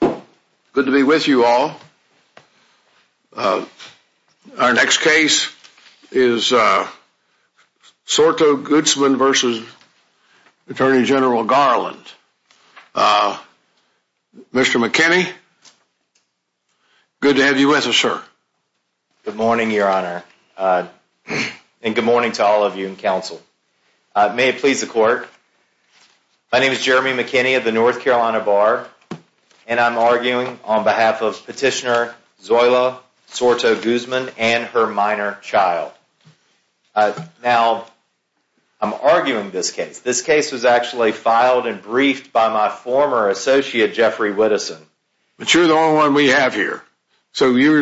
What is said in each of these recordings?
Good to be with you all. Our next case is Sorto-Guzman v. Attorney General Garland. Mr. McKinney, good to have you with us, sir. Good morning, Your Honor, and good morning to all of you in counsel. May it please the Court, my name is Jeremy McKinney of the North Carolina Bar, and I'm arguing on behalf of Petitioner Zoila Sorto-Guzman and her minor child. Now, I'm arguing this case. This case was actually filed and briefed by my former associate, Jeffrey Whitteson. But you're the only one we have here, so you're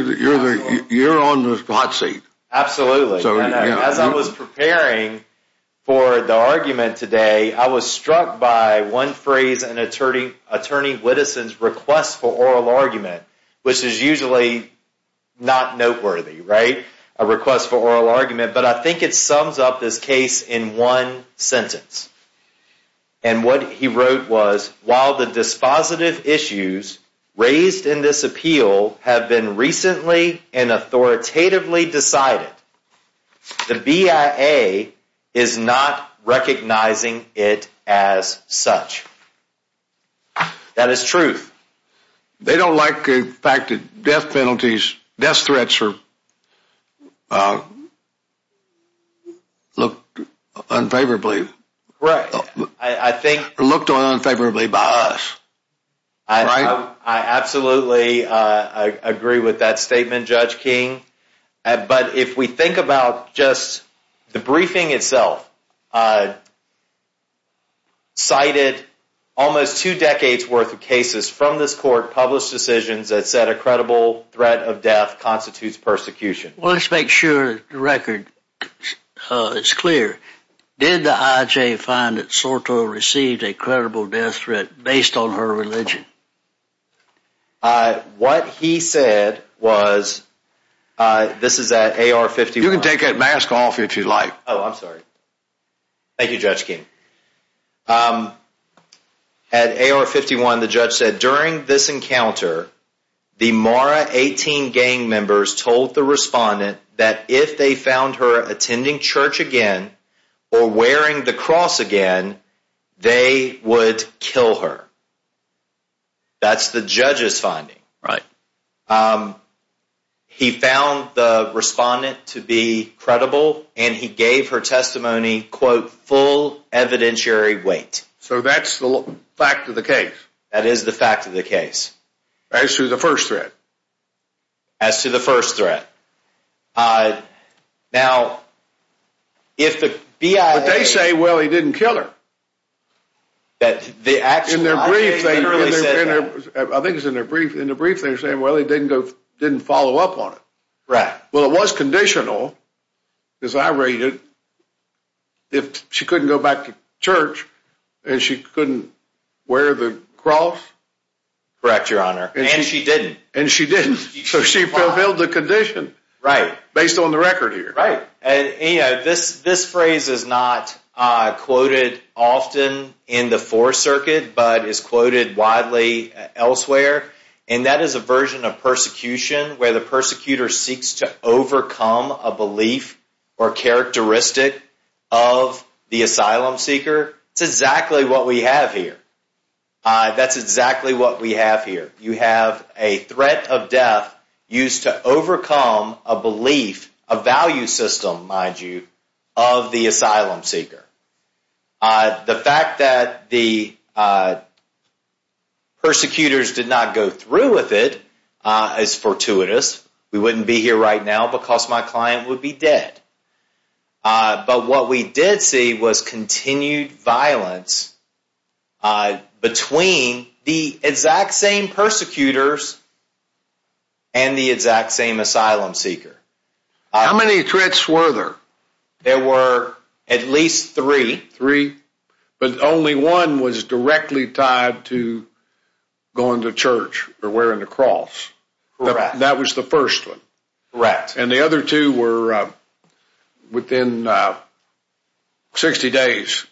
on the spot seat. Absolutely. As I was preparing for the argument today, I was struck by one phrase in Attorney Whitteson's request for oral argument, which is usually not noteworthy, right? A request for oral argument, but I think it sums up this case in one sentence. And what he wrote was, while the dispositive issues raised in this appeal have been recently and authoritatively decided, the BIA is not recognizing it as such. That is truth. They don't like the fact that death penalties, death threats are looked unfavorably by us. I absolutely agree with that statement, Judge King. But if we think about just the briefing itself, cited almost two decades worth of cases from this court, published decisions that said a credible threat of death constitutes persecution. Well, let's make sure the record is clear. Did the I.J. find that Soto received a credible death threat based on her religion? What he said was, this is at AR 51. You can take that mask off if you'd like. Oh, I'm sorry. Thank you, Judge King. At AR 51, the judge said during this encounter, the Mara 18 gang members told the respondent that if they found her attending church again or wearing the cross again, they would kill her. That's the judge's finding, right? He found the respondent to be credible, and he gave her testimony, quote, full evidentiary weight. So that's the fact of the case? That is the fact of the case. As to the first threat? As to the first threat. Now, if the BIA... But they say, well, he didn't kill her. In their brief, they're saying, well, he didn't follow up on it. Well, it was conditional, as I read it, if she couldn't go back to church and she couldn't wear the cross. Correct, Your Honor. And she didn't. And she didn't. So she fulfilled the condition based on the record here. This phrase is not quoted often in the Fourth Circuit, but is quoted widely elsewhere. And that is a version of persecution, where the persecutor seeks to overcome a belief or characteristic of the asylum seeker. It's exactly what we have here. That's exactly what we have here. You have a threat of death used to overcome a belief, a value system, mind you, of the asylum seeker. The fact that the persecutors did not go through with it is fortuitous. We wouldn't be here right now because my client would be dead. But what we did see was continued violence between the exact same persecutors and the exact same asylum seeker. How many threats were there? There were at least three. Three? But only one was directly tied to going to church or wearing the cross. Correct. That was the first one. Correct. And the other two were within 60 days.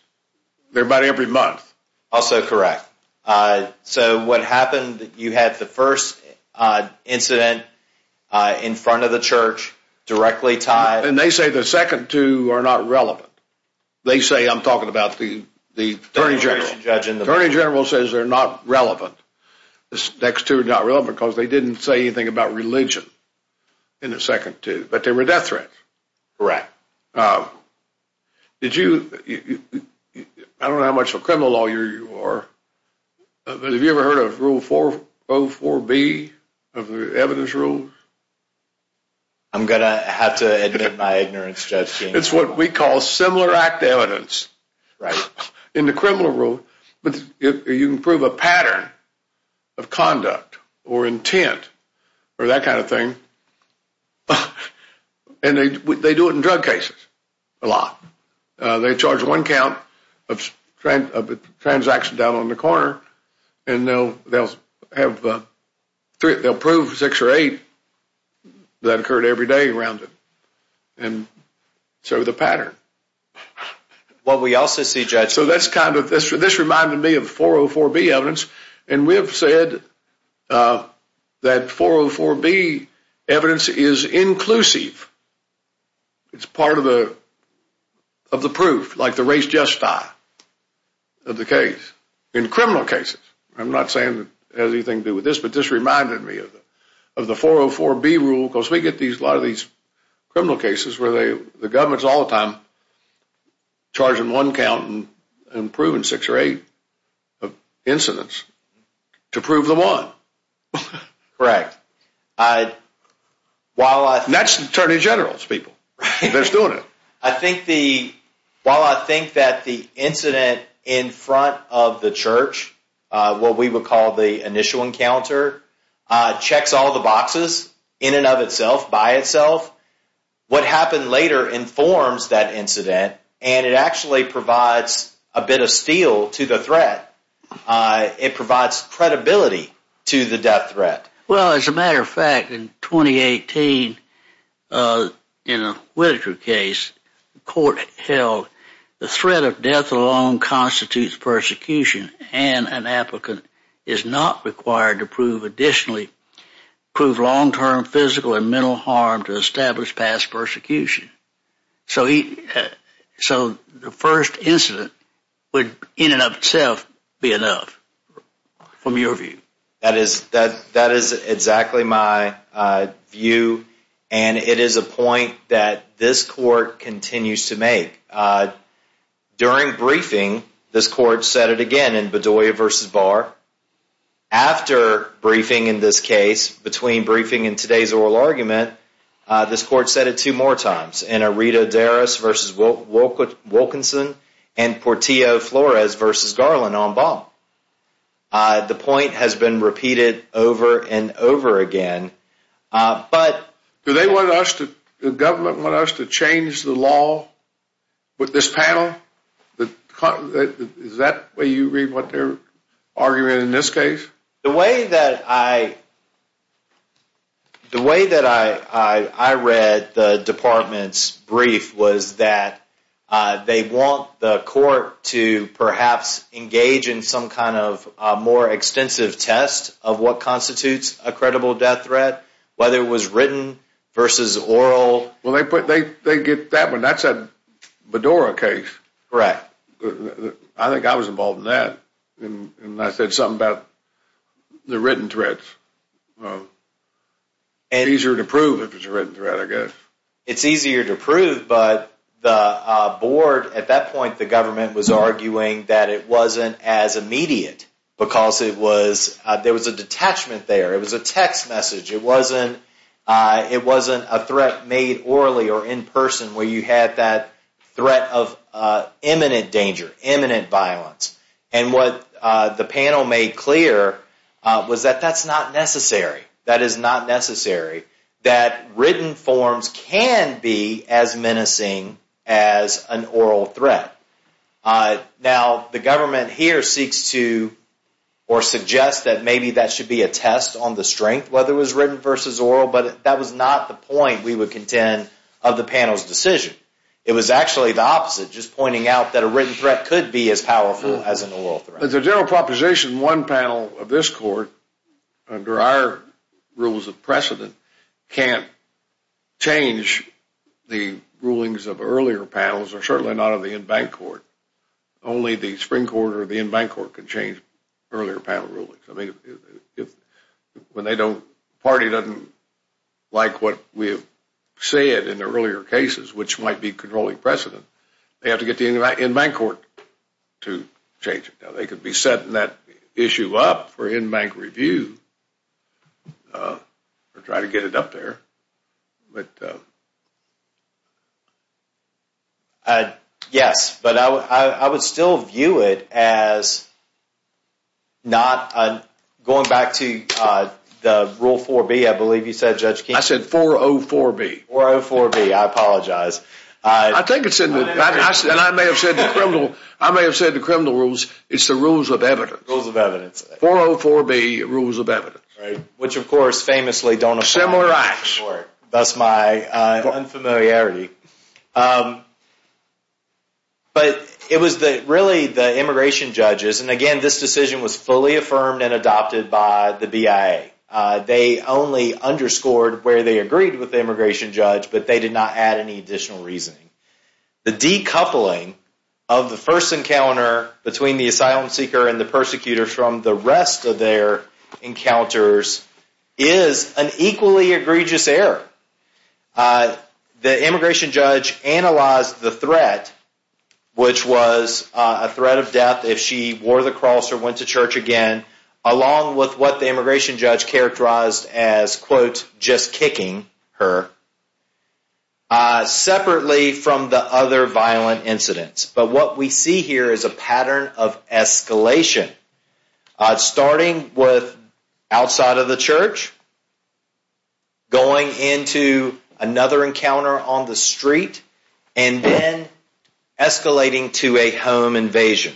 They're about every month. Also correct. So what happened, you had the first incident in front of the church, directly tied? And they say the second two are not relevant. They say, I'm talking about the Attorney General. Attorney General says they're not relevant. The next two are not relevant because they didn't say anything about religion in the second two. But they were death threats. Correct. Did you, I don't know how much of a criminal lawyer you are, but have you ever heard of Rule 404B of the evidence rule? I'm going to have to admit my ignorance, Judge King. It's what we call similar act evidence. Right. In the criminal rule, you can prove a pattern of conduct or intent or that kind of thing, and they do it in drug cases a lot. They charge one count of transaction down on the corner, and they'll prove six or eight that occurred every day around it. And so the pattern. What we also see, Judge. So that's kind of, this reminded me of 404B evidence. And we have said that 404B evidence is inclusive. It's part of the proof, like the race just die of the case. In criminal cases. I'm not saying it has anything to do with this, but this reminded me of the 404B rule. Because we get a lot of these criminal cases where the government's all the time charging one count and proving six or eight incidents to prove the one. Correct. That's attorney generals, people. They're doing it. While I think that the incident in front of the church, what we would call the initial encounter, checks all the boxes in and of itself, by itself. What happened later informs that incident, and it actually provides a bit of steel to the threat. It provides credibility to the death threat. Well, as a matter of fact, in 2018, in a case, the court held the threat of death alone constitutes persecution. And an applicant is not required to prove additionally, prove long-term physical and mental harm to establish past persecution. So the first incident would, in and of itself, be enough. From your view. That is exactly my view. And it is a point that this court continues to make. During briefing, this court said it again in Bedoya v. Barr. After briefing in this case, between briefing and today's oral argument, this court said it two more times. In Arredo-Darris v. Wilkinson and Portillo-Flores v. Garland on Baum. The point has been repeated over and over again. Do they want us, the government, to change the law with this panel? Is that the way you read what they're arguing in this case? The way that I read the department's brief was that they want the court to perhaps engage in some kind of more extensive test of what constitutes a credible death threat. Whether it was written versus oral. Well, they get that one. That's a Bedoya case. Correct. I think I was involved in that. And I said something about the written threats. Easier to prove if it's a written threat, I guess. It's easier to prove, but the board at that point, the government, was arguing that it wasn't as immediate. Because there was a detachment there. It was a text message. It wasn't a threat made orally or in person where you had that threat of imminent danger, imminent violence. And what the panel made clear was that that's not necessary. That is not necessary. That written forms can be as menacing as an oral threat. Now, the government here seeks to or suggests that maybe that should be a test on the strength, whether it was written versus oral. But that was not the point we would contend of the panel's decision. It was actually the opposite, just pointing out that a written threat could be as powerful as an oral threat. As a general proposition, one panel of this court, under our rules of precedent, can't change the rulings of earlier panels, or certainly not of the in-bank court. Only the spring court or the in-bank court can change earlier panel rulings. I mean, when the party doesn't like what we have said in the earlier cases, which might be controlling precedent, they have to get the in-bank court to change it. They could be setting that issue up for in-bank review or try to get it up there. Yes, but I would still view it as not going back to the Rule 4B, I believe you said, Judge King. I said 404B. 404B, I apologize. I may have said the criminal rules, it's the rules of evidence. Rules of evidence. 404B, rules of evidence. Which, of course, famously don't apply to this court, thus my unfamiliarity. But it was really the immigration judges, and again, this decision was fully affirmed and adopted by the BIA. They only underscored where they agreed with the immigration judge, but they did not add any additional reasoning. The decoupling of the first encounter between the asylum seeker and the persecutor from the rest of their encounters is an equally egregious error. The immigration judge analyzed the threat, which was a threat of death if she wore the cross or went to church again, along with what the immigration judge characterized as, quote, just kicking her, separately from the other violent incidents. But what we see here is a pattern of escalation, starting with outside of the church, going into another encounter on the street, and then escalating to a home invasion.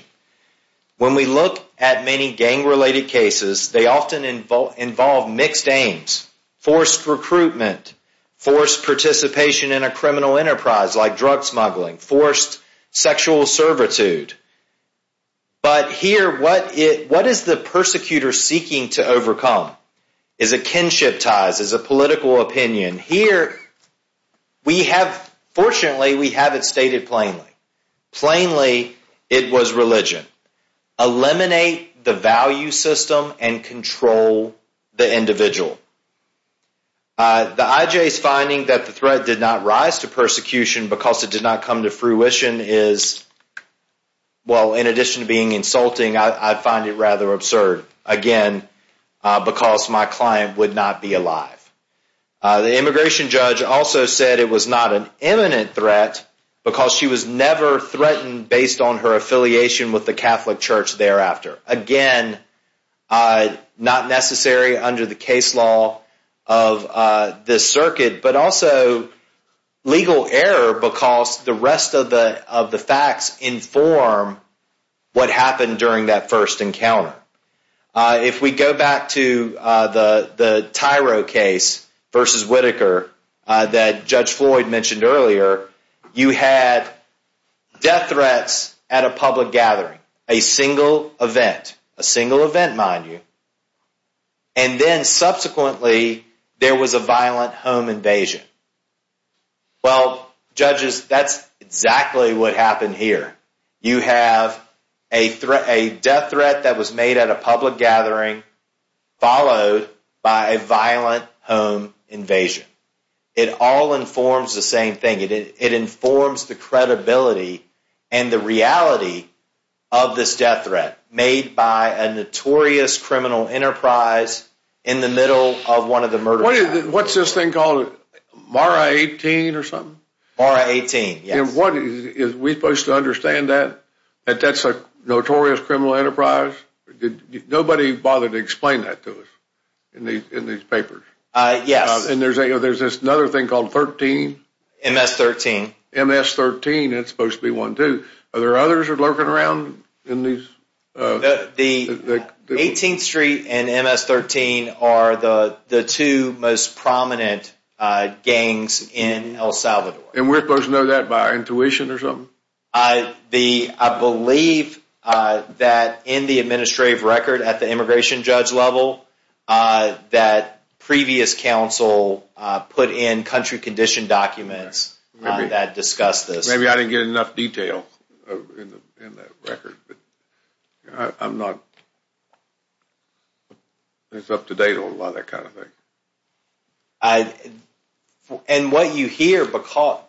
When we look at many gang-related cases, they often involve mixed aims, forced recruitment, forced participation in a criminal enterprise like drug smuggling, forced sexual servitude. But here, what is the persecutor seeking to overcome? Is it kinship ties? Is it political opinion? Here, fortunately, we have it stated plainly. Plainly, it was religion. Eliminate the value system and control the individual. The IJ's finding that the threat did not rise to persecution because it did not come to fruition is, well, in addition to being insulting, I find it rather absurd, again, because my client would not be alive. The immigration judge also said it was not an imminent threat because she was never threatened based on her affiliation with the Catholic Church thereafter. Again, not necessary under the case law of this circuit, but also legal error because the rest of the facts inform what happened during that first encounter. If we go back to the Tyro case versus Whitaker that Judge Floyd mentioned earlier, you had death threats at a public gathering, a single event, a single event mind you, and then subsequently there was a violent home invasion. Well, judges, that's exactly what happened here. You have a death threat that was made at a public gathering followed by a violent home invasion. It all informs the same thing. It informs the credibility and the reality of this death threat made by a notorious criminal enterprise in the middle of one of the murder cases. What's this thing called, Mara 18 or something? Mara 18, yes. Are we supposed to understand that that's a notorious criminal enterprise? Nobody bothered to explain that to us in these papers. Yes. And there's another thing called 13? MS-13. MS-13, it's supposed to be one too. Are there others lurking around in these? The 18th Street and MS-13 are the two most prominent gangs in El Salvador. And we're supposed to know that by intuition or something? I believe that in the administrative record at the immigration judge level that previous counsel put in country condition documents that discussed this. Maybe I didn't get enough detail in that record. I'm not up to date on a lot of that kind of thing. And what you hear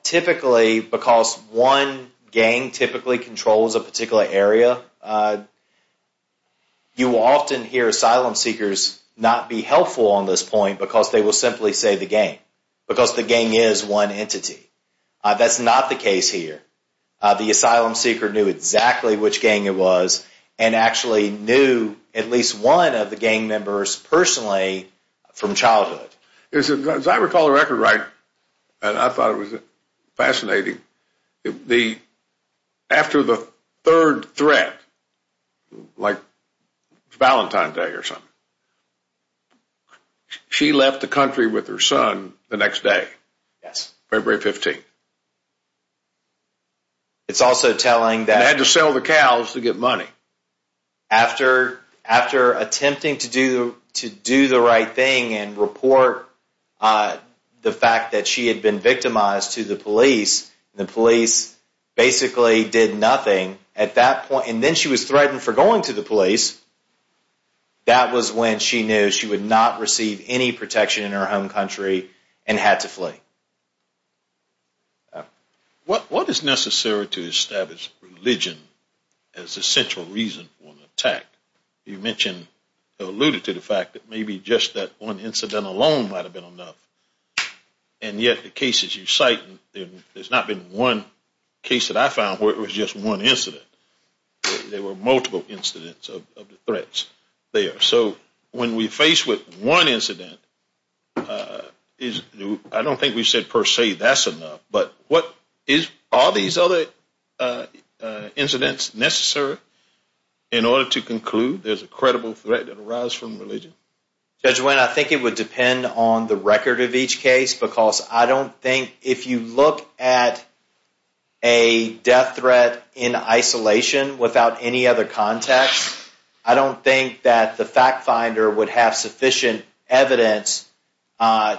typically because one gang typically controls a particular area, you often hear asylum seekers not be helpful on this point because they will simply say the gang, because the gang is one entity. That's not the case here. The asylum seeker knew exactly which gang it was and actually knew at least one of the gang members personally from childhood. As I recall the record right, and I thought it was fascinating, after the third threat, like Valentine's Day or something, she left the country with her son the next day, February 15th. And had to sell the cows to get money. After attempting to do the right thing and report the fact that she had been victimized to the police, the police basically did nothing at that point. And then she was threatened for going to the police. That was when she knew she would not receive any protection in her home country and had to flee. What is necessary to establish religion as a central reason for an attack? You mentioned, alluded to the fact that maybe just that one incident alone might have been enough. And yet the cases you cite, there has not been one case that I found where it was just one incident. There were multiple incidents of threats there. So when we're faced with one incident, I don't think we've said per se that's enough. But are these other incidents necessary in order to conclude there's a credible threat that arises from religion? Judge Wynn, I think it would depend on the record of each case, because I don't think if you look at a death threat in isolation without any other context, I don't think that the fact finder would have sufficient evidence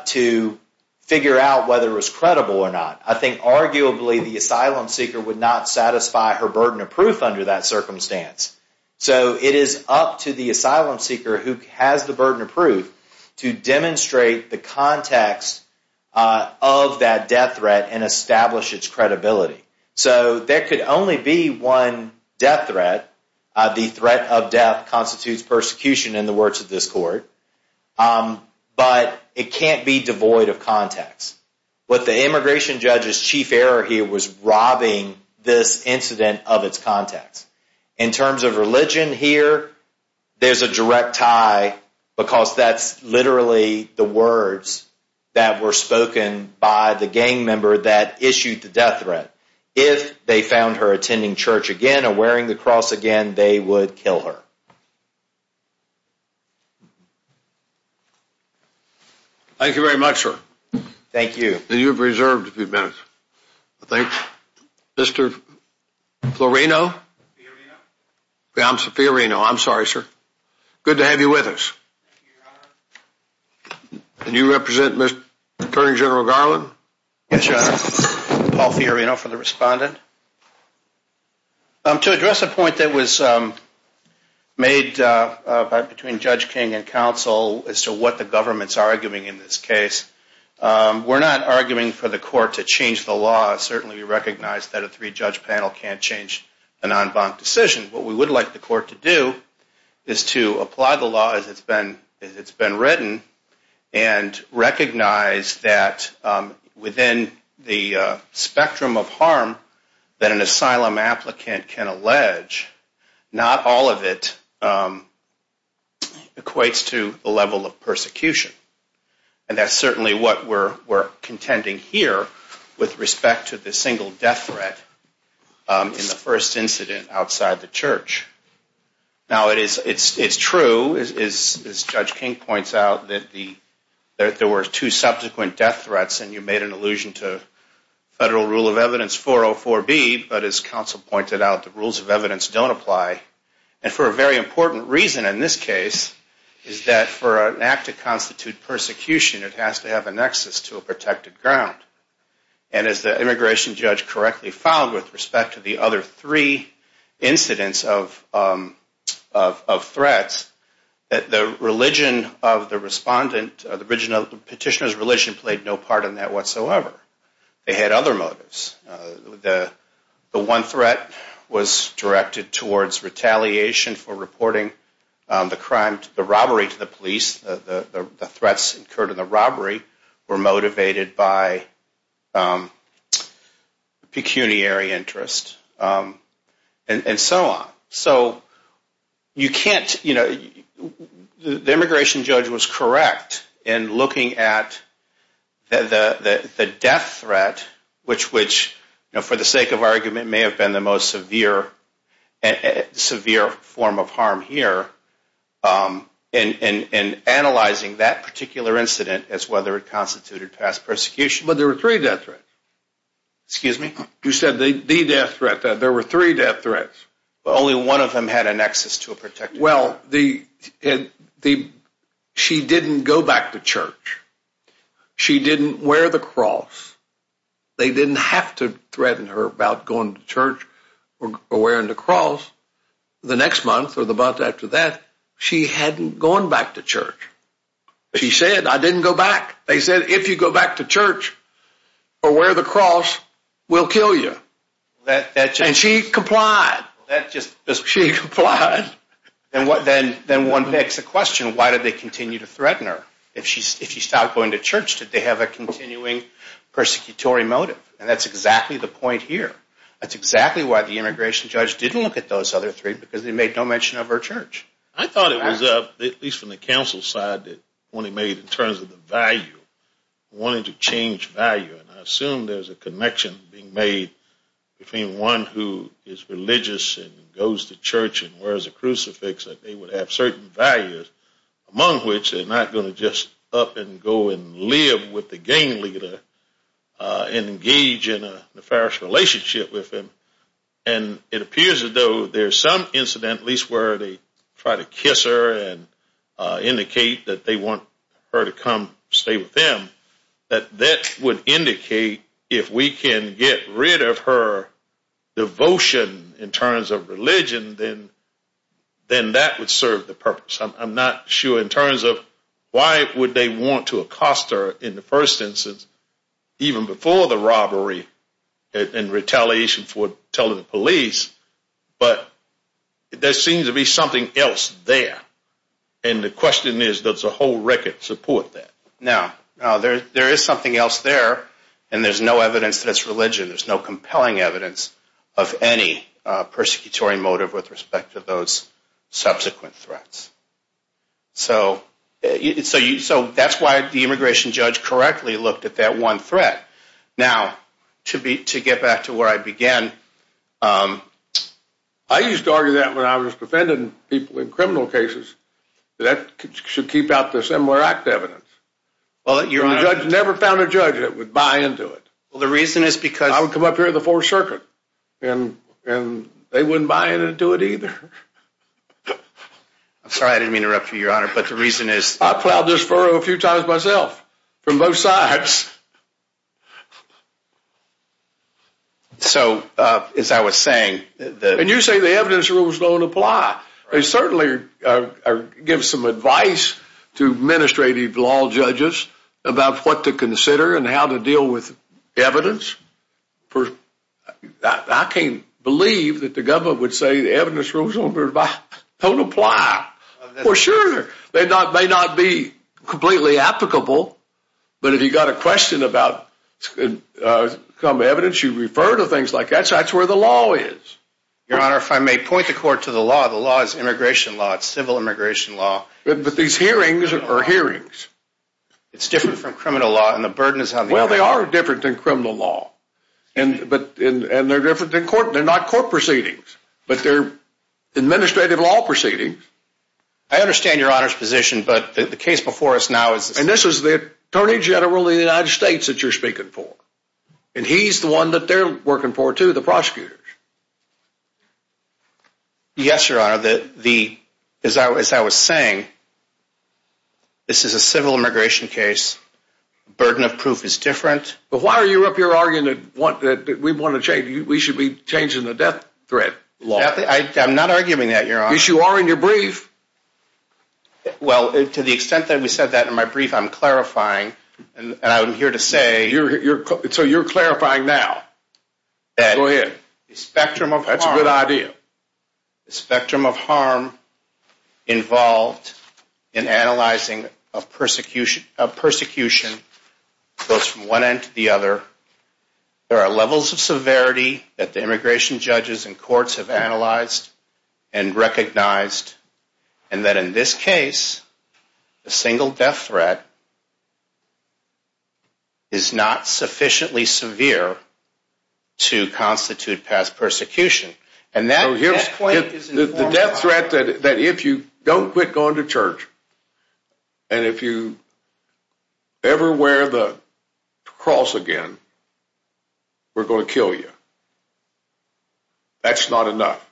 to figure out whether it was credible or not. I think arguably the asylum seeker would not satisfy her burden of proof under that circumstance. So it is up to the asylum seeker who has the burden of proof to demonstrate the context of that death threat and establish its credibility. So there could only be one death threat. The threat of death constitutes persecution in the words of this court. But it can't be devoid of context. What the immigration judge's chief error here was robbing this incident of its context. In terms of religion here, there's a direct tie because that's literally the words that were spoken by the gang member that issued the death threat. If they found her attending church again or wearing the cross again, they would kill her. Thank you very much, sir. Thank you. You have reserved a few minutes. Mr. Fiorino. I'm sorry, sir. Good to have you with us. Can you represent Attorney General Garland? Yes, your honor. Paul Fiorino for the respondent. To address a point that was made between Judge King and counsel as to what the government's arguing in this case, we're not arguing for the court to change the law. Certainly we recognize that a three-judge panel can't change an en banc decision. What we would like the court to do is to apply the law as it's been written and recognize that within the spectrum of harm that an asylum applicant can allege, not all of it equates to the level of persecution. And that's certainly what we're contending here with respect to the single death threat in the first incident outside the church. Now, it's true, as Judge King points out, that there were two subsequent death threats and you made an allusion to federal rule of evidence 404B, but as counsel pointed out, the rules of evidence don't apply. And for a very important reason in this case is that for an act to constitute persecution, it has to have a nexus to a protected ground. And as the immigration judge correctly found with respect to the other three incidents of threats, the religion of the respondent, the petitioner's religion played no part in that whatsoever. They had other motives. The one threat was directed towards retaliation for reporting the crime, the robbery to the police. The threats incurred in the robbery were motivated by pecuniary interest and so on. So you can't, you know, the immigration judge was correct in looking at the death threat, which for the sake of argument may have been the most severe form of harm here, and analyzing that particular incident as whether it constituted past persecution. But there were three death threats. Excuse me? You said the death threat. There were three death threats. Only one of them had a nexus to a protected ground. Well, she didn't go back to church. She didn't wear the cross. They didn't have to threaten her about going to church or wearing the cross. The next month or the month after that, she hadn't gone back to church. She said, I didn't go back. They said, if you go back to church or wear the cross, we'll kill you. And she complied. She complied. Then one begs the question, why did they continue to threaten her? If she stopped going to church, did they have a continuing persecutory motive? And that's exactly the point here. That's exactly why the immigration judge didn't look at those other three, because they made no mention of her church. I thought it was, at least from the counsel's side, that when it made in terms of the value, wanted to change value, and I assume there's a connection being made between one who is religious and goes to church and wears a crucifix, that they would have certain values, among which they're not going to just up and go and live with the gang leader and engage in a nefarious relationship with him. And it appears as though there's some incident, at least where they try to kiss her and indicate that they want her to come stay with them, that that would indicate if we can get rid of her devotion in terms of religion, then that would serve the purpose. I'm not sure in terms of why would they want to accost her in the first instance, even before the robbery and retaliation for telling the police, but there seems to be something else there. And the question is, does the whole record support that? Now, there is something else there, and there's no evidence that it's religion. There's no compelling evidence of any persecutory motive with respect to those subsequent threats. So that's why the immigration judge correctly looked at that one threat. Now, to get back to where I began, I used to argue that when I was defending people in criminal cases, that should keep out the similar act evidence. The judge never found a judge that would buy into it. The reason is because I would come up here in the Fourth Circuit, and they wouldn't buy into it either. I'm sorry I didn't mean to interrupt you, Your Honor, but the reason is— I plowed this furrow a few times myself from both sides. So, as I was saying— And you say the evidence rules don't apply. I certainly give some advice to administrative law judges about what to consider and how to deal with evidence. I can't believe that the government would say the evidence rules don't apply. For sure. They may not be completely applicable, but if you've got a question about some evidence, you refer to things like that. So that's where the law is. Your Honor, if I may point the court to the law, the law is immigration law. It's civil immigration law. But these hearings are hearings. It's different from criminal law, and the burden is on the— Well, they are different than criminal law. And they're different than court. They're not court proceedings, but they're administrative law proceedings. I understand Your Honor's position, but the case before us now is— And this is the Attorney General of the United States that you're speaking for. And he's the one that they're working for, too, the prosecutors. Yes, Your Honor. As I was saying, this is a civil immigration case. The burden of proof is different. But why are you up here arguing that we want to change— we should be changing the death threat law? I'm not arguing that, Your Honor. Yes, you are in your brief. Well, to the extent that we said that in my brief, I'm clarifying. And I'm here to say— So you're clarifying now. Go ahead. That the spectrum of harm— That's a good idea. The spectrum of harm involved in analyzing a persecution goes from one end to the other. There are levels of severity that the immigration judges and courts have analyzed and recognized. And that in this case, a single death threat is not sufficiently severe to constitute past persecution. And that death threat— We're going to kill you. That's not enough,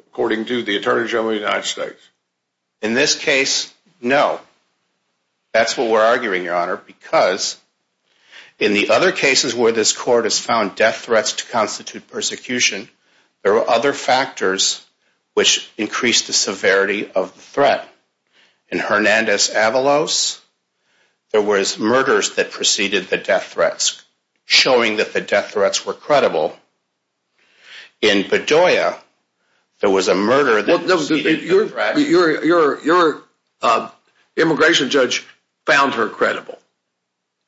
according to the Attorney General of the United States. In this case, no. That's what we're arguing, Your Honor, because in the other cases where this court has found death threats to constitute persecution, there were other factors which increased the severity of the threat. In Hernandez-Avalos, there were murders that preceded the death threats, showing that the death threats were credible. In Bedoya, there was a murder that preceded the death threats. Your immigration judge found her credible.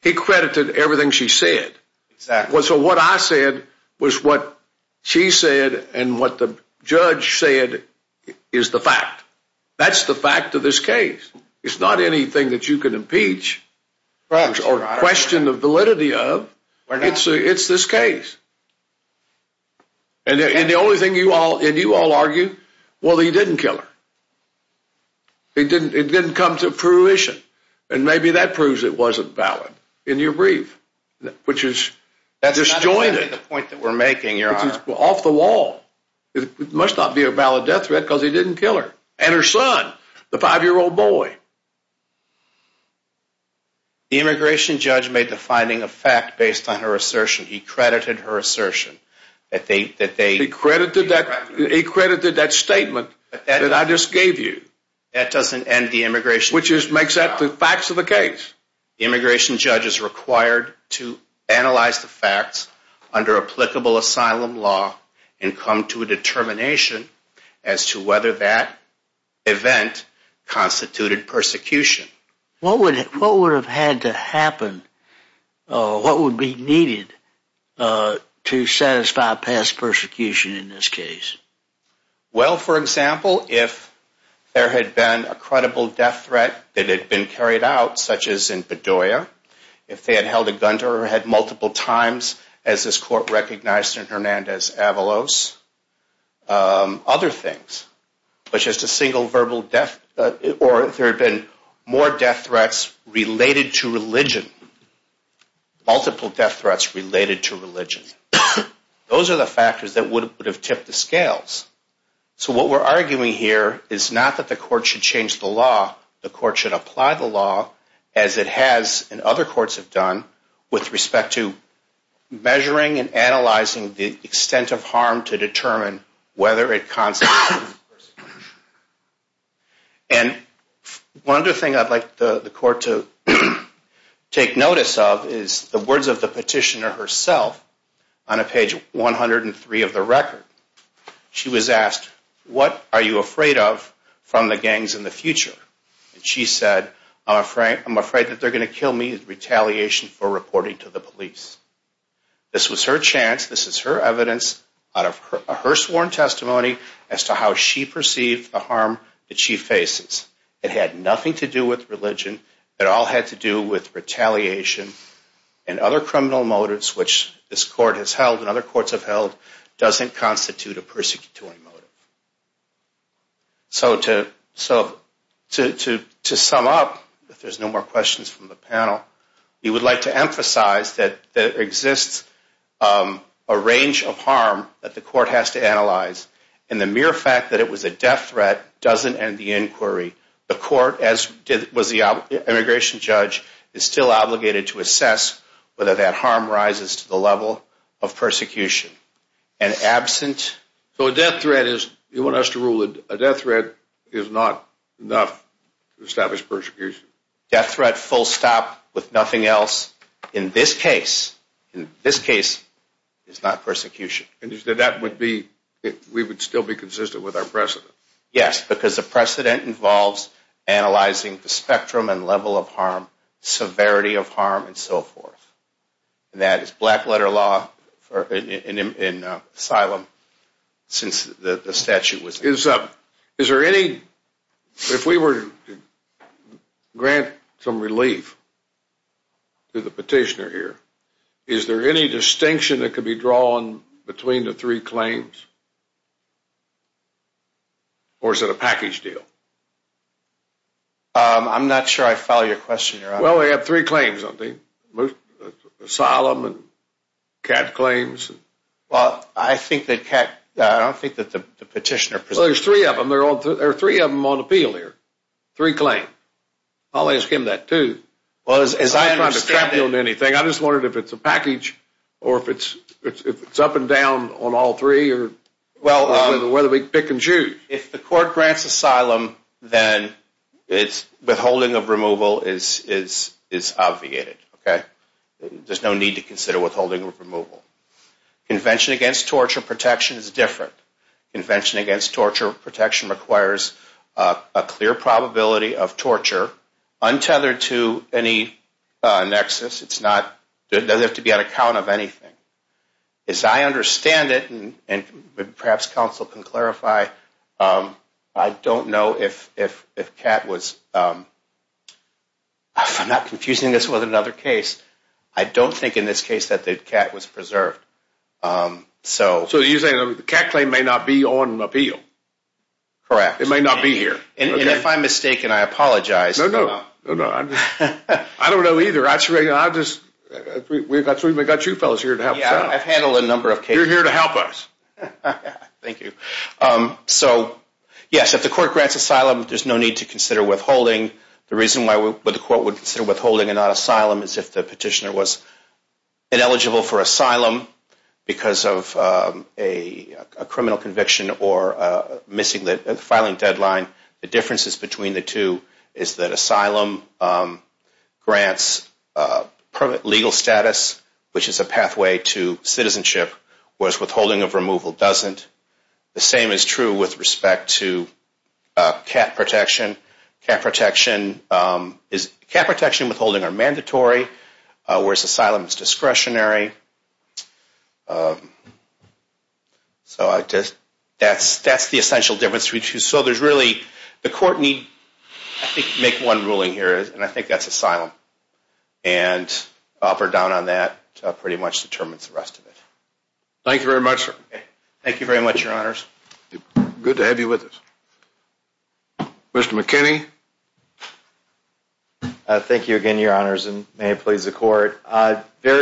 He credited everything she said. Exactly. So what I said was what she said and what the judge said is the fact. That's the fact of this case. It's not anything that you can impeach or question the validity of. It's this case. And the only thing you all argue, well, he didn't kill her. It didn't come to fruition. And maybe that proves it wasn't valid in your brief, which is disjointed. That's not really the point that we're making, Your Honor. It's off the wall. It must not be a valid death threat because he didn't kill her and her son, the 5-year-old boy. The immigration judge made the finding a fact based on her assertion. He credited her assertion. He credited that statement that I just gave you. That doesn't end the immigration. Which makes that the facts of the case. The immigration judge is required to analyze the facts under applicable asylum law and come to a determination as to whether that event constituted persecution. What would have had to happen? What would be needed to satisfy past persecution in this case? Well, for example, if there had been a credible death threat that had been carried out, such as in Bedoya, if they had held a gun to her head multiple times, as this court recognized in Hernandez-Avalos, other things. But just a single verbal death, or if there had been more death threats related to religion, multiple death threats related to religion. Those are the factors that would have tipped the scales. So what we're arguing here is not that the court should change the law. The court should apply the law as it has and other courts have done with respect to measuring and analyzing the extent of harm to determine whether it constitutes persecution. And one other thing I'd like the court to take notice of is the words of the petitioner herself on page 103 of the record. She was asked, what are you afraid of from the gangs in the future? And she said, I'm afraid that they're going to kill me in retaliation for reporting to the police. This was her chance. This is her evidence out of her sworn testimony as to how she perceived the harm that she faces. It had nothing to do with religion. It all had to do with retaliation and other criminal motives, which this court has held and other courts have held doesn't constitute a persecutory motive. So to sum up, if there's no more questions from the panel, we would like to emphasize that there exists a range of harm that the court has to analyze. And the mere fact that it was a death threat doesn't end the inquiry. The court, as was the immigration judge, is still obligated to assess whether that harm rises to the level of persecution. So a death threat is, you want us to rule it, a death threat is not enough to establish persecution. Death threat, full stop, with nothing else, in this case, in this case, is not persecution. And you said that would be, we would still be consistent with our precedent. Yes, because the precedent involves analyzing the spectrum and level of harm, severity of harm, and so forth. And that is black letter law in asylum since the statute was. Is there any, if we were to grant some relief to the petitioner here, is there any distinction that could be drawn between the three claims? Or is it a package deal? I'm not sure I follow your question. Well, we have three claims, I think. Asylum and CAD claims. Well, I think that CAD, I don't think that the petitioner. Well, there's three of them. There are three of them on appeal here. Three claims. I'll ask him that, too. Well, as I understand it. I'm not trying to crap you on anything. I just wondered if it's a package or if it's up and down on all three or whether we pick and choose. If the court grants asylum, then withholding of removal is obviated. There's no need to consider withholding of removal. Convention against torture protection is different. Convention against torture protection requires a clear probability of torture untethered to any nexus. It doesn't have to be on account of anything. As I understand it, and perhaps counsel can clarify, I don't know if CAD was. I'm not confusing this with another case. I don't think in this case that CAD was preserved. So you're saying the CAD claim may not be on appeal? Correct. It may not be here. And if I'm mistaken, I apologize. No, no. I don't know either. We've got you fellows here to help us out. Yeah, I've handled a number of cases. You're here to help us. Thank you. So, yes, if the court grants asylum, there's no need to consider withholding. The reason why the court would consider withholding and not asylum is if the petitioner was ineligible for asylum because of a criminal conviction or missing the filing deadline. The differences between the two is that asylum grants legal status, which is a pathway to citizenship, whereas withholding of removal doesn't. The same is true with respect to CAT protection. CAT protection and withholding are mandatory, whereas asylum is discretionary. So that's the essential difference. So there's really, the court need, I think, to make one ruling here, and I think that's asylum. And up or down on that pretty much determines the rest of it. Thank you very much, sir. Thank you very much, Your Honors. Good to have you with us. Mr. McKinney? Very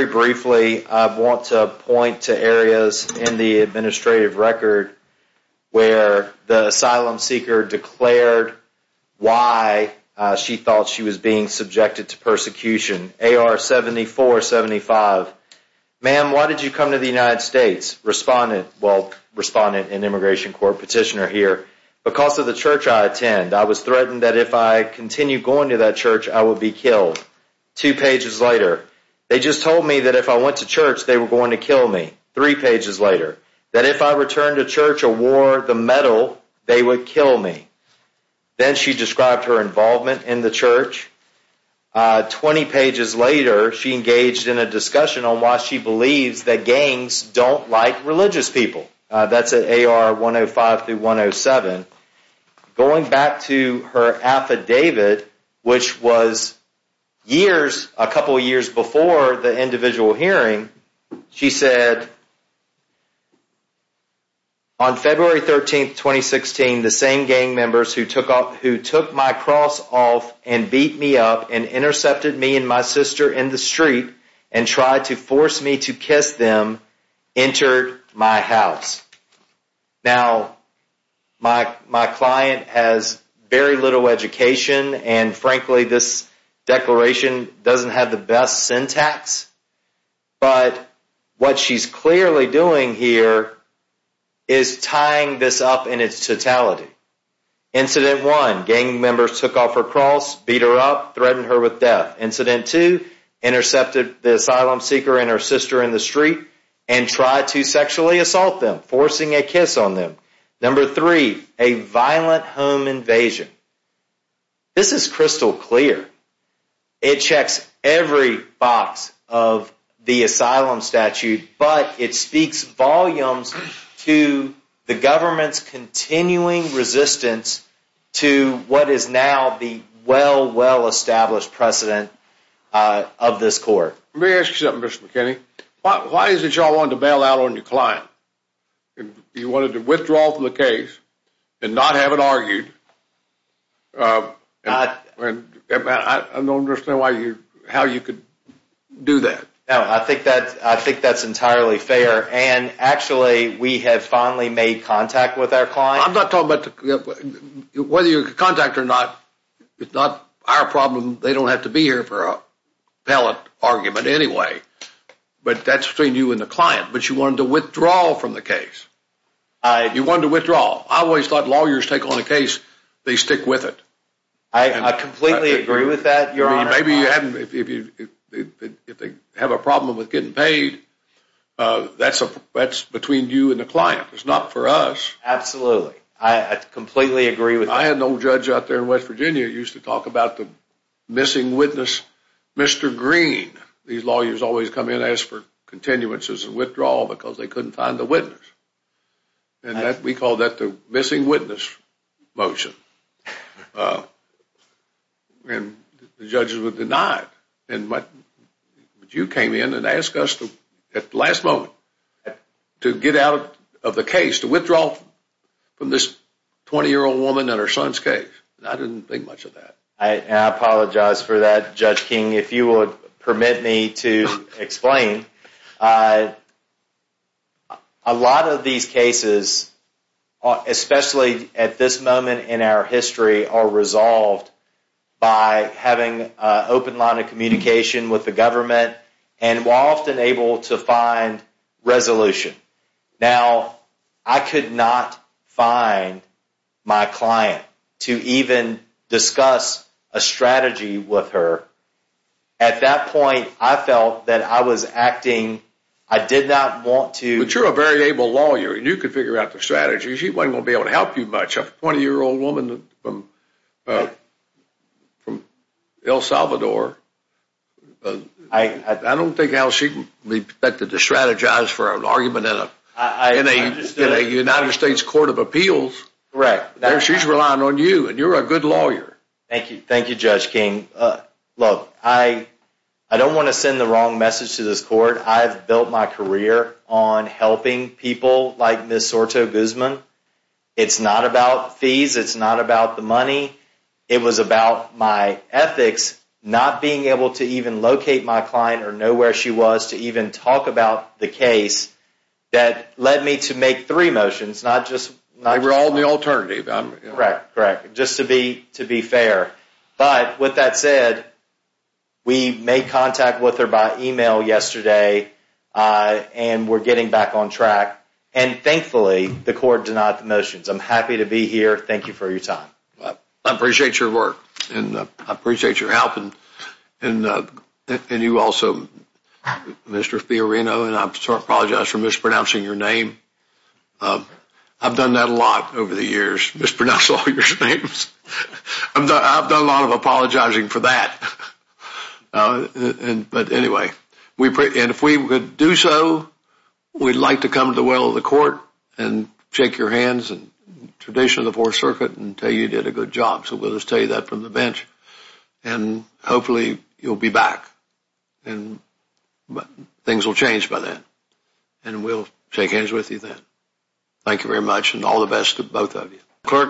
briefly, I want to point to areas in the administrative record where the asylum seeker declared why she thought she was being subjected to persecution. AR-7475, ma'am, why did you come to the United States? Respondent, well, Respondent and Immigration Court Petitioner here. Because of the church I attend, I was threatened that if I continued going to that church, I would be killed. Two pages later, they just told me that if I went to church, they were going to kill me. Three pages later, that if I returned to church or wore the medal, they would kill me. Then she described her involvement in the church. Twenty pages later, she engaged in a discussion on why she believes that gangs don't like religious people. That's at AR-105-107. Going back to her affidavit, which was years, a couple years before the individual hearing, she said, On February 13, 2016, the same gang members who took my cross off and beat me up and intercepted me and my sister in the street and tried to force me to kiss them entered my house. Now, my client has very little education, and frankly, this declaration doesn't have the best syntax. But what she's clearly doing here is tying this up in its totality. Incident one, gang members took off her cross, beat her up, threatened her with death. Incident two, intercepted the asylum seeker and her sister in the street and tried to sexually assault them, forcing a kiss on them. Number three, a violent home invasion. This is crystal clear. It checks every box of the asylum statute, but it speaks volumes to the government's continuing resistance to what is now the well, well established precedent of this court. Let me ask you something, Mr. McKinney. Why is it you all wanted to bail out on your client? You wanted to withdraw from the case and not have it argued. I don't understand how you could do that. No, I think that's entirely fair. And actually, we have finally made contact with our client. I'm not talking about whether you're in contact or not. It's not our problem. They don't have to be here for a pellet argument anyway. But that's between you and the client. But you wanted to withdraw from the case. You wanted to withdraw. I always thought lawyers take on a case, they stick with it. I completely agree with that, Your Honor. Maybe you haven't. If they have a problem with getting paid, that's between you and the client. It's not for us. Absolutely. I completely agree with that. I had an old judge out there in West Virginia who used to talk about the missing witness, Mr. Green. These lawyers always come in and ask for continuances and withdrawal because they couldn't find the witness. And we called that the missing witness motion. And the judges would deny it. But you came in and asked us at the last moment to get out of the case, to withdraw from this 20-year-old woman and her son's case. I didn't think much of that. I apologize for that, Judge King. If you would permit me to explain. A lot of these cases, especially at this moment in our history, are resolved by having an open line of communication with the government and often able to find resolution. Now, I could not find my client to even discuss a strategy with her. At that point, I felt that I was acting. I did not want to. But you're a very able lawyer. You could figure out the strategy. She wasn't going to be able to help you much. A 20-year-old woman from El Salvador. I don't think she'd be expected to strategize for an argument in a United States Court of Appeals. She's relying on you, and you're a good lawyer. Thank you, Judge King. Look, I don't want to send the wrong message to this court. I've built my career on helping people like Ms. Soto-Guzman. It's not about fees. It's not about the money. It was about my ethics not being able to even locate my client or know where she was to even talk about the case that led me to make three motions, not just one. They were all the alternative. Correct, correct, just to be fair. But with that said, we made contact with her by email yesterday, and we're getting back on track. And thankfully, the court denied the motions. I'm happy to be here. Thank you for your time. I appreciate your work, and I appreciate your help. And you also, Mr. Fiorino, and I apologize for mispronouncing your name. I've done that a lot over the years, mispronouncing all your names. I've done a lot of apologizing for that. But anyway, and if we would do so, we'd like to come to the well of the court and shake your hands in tradition of the Fourth Circuit and tell you you did a good job. So we'll just tell you that from the bench. And hopefully you'll be back, and things will change by then, and we'll shake hands with you then. Thank you very much, and all the best to both of you.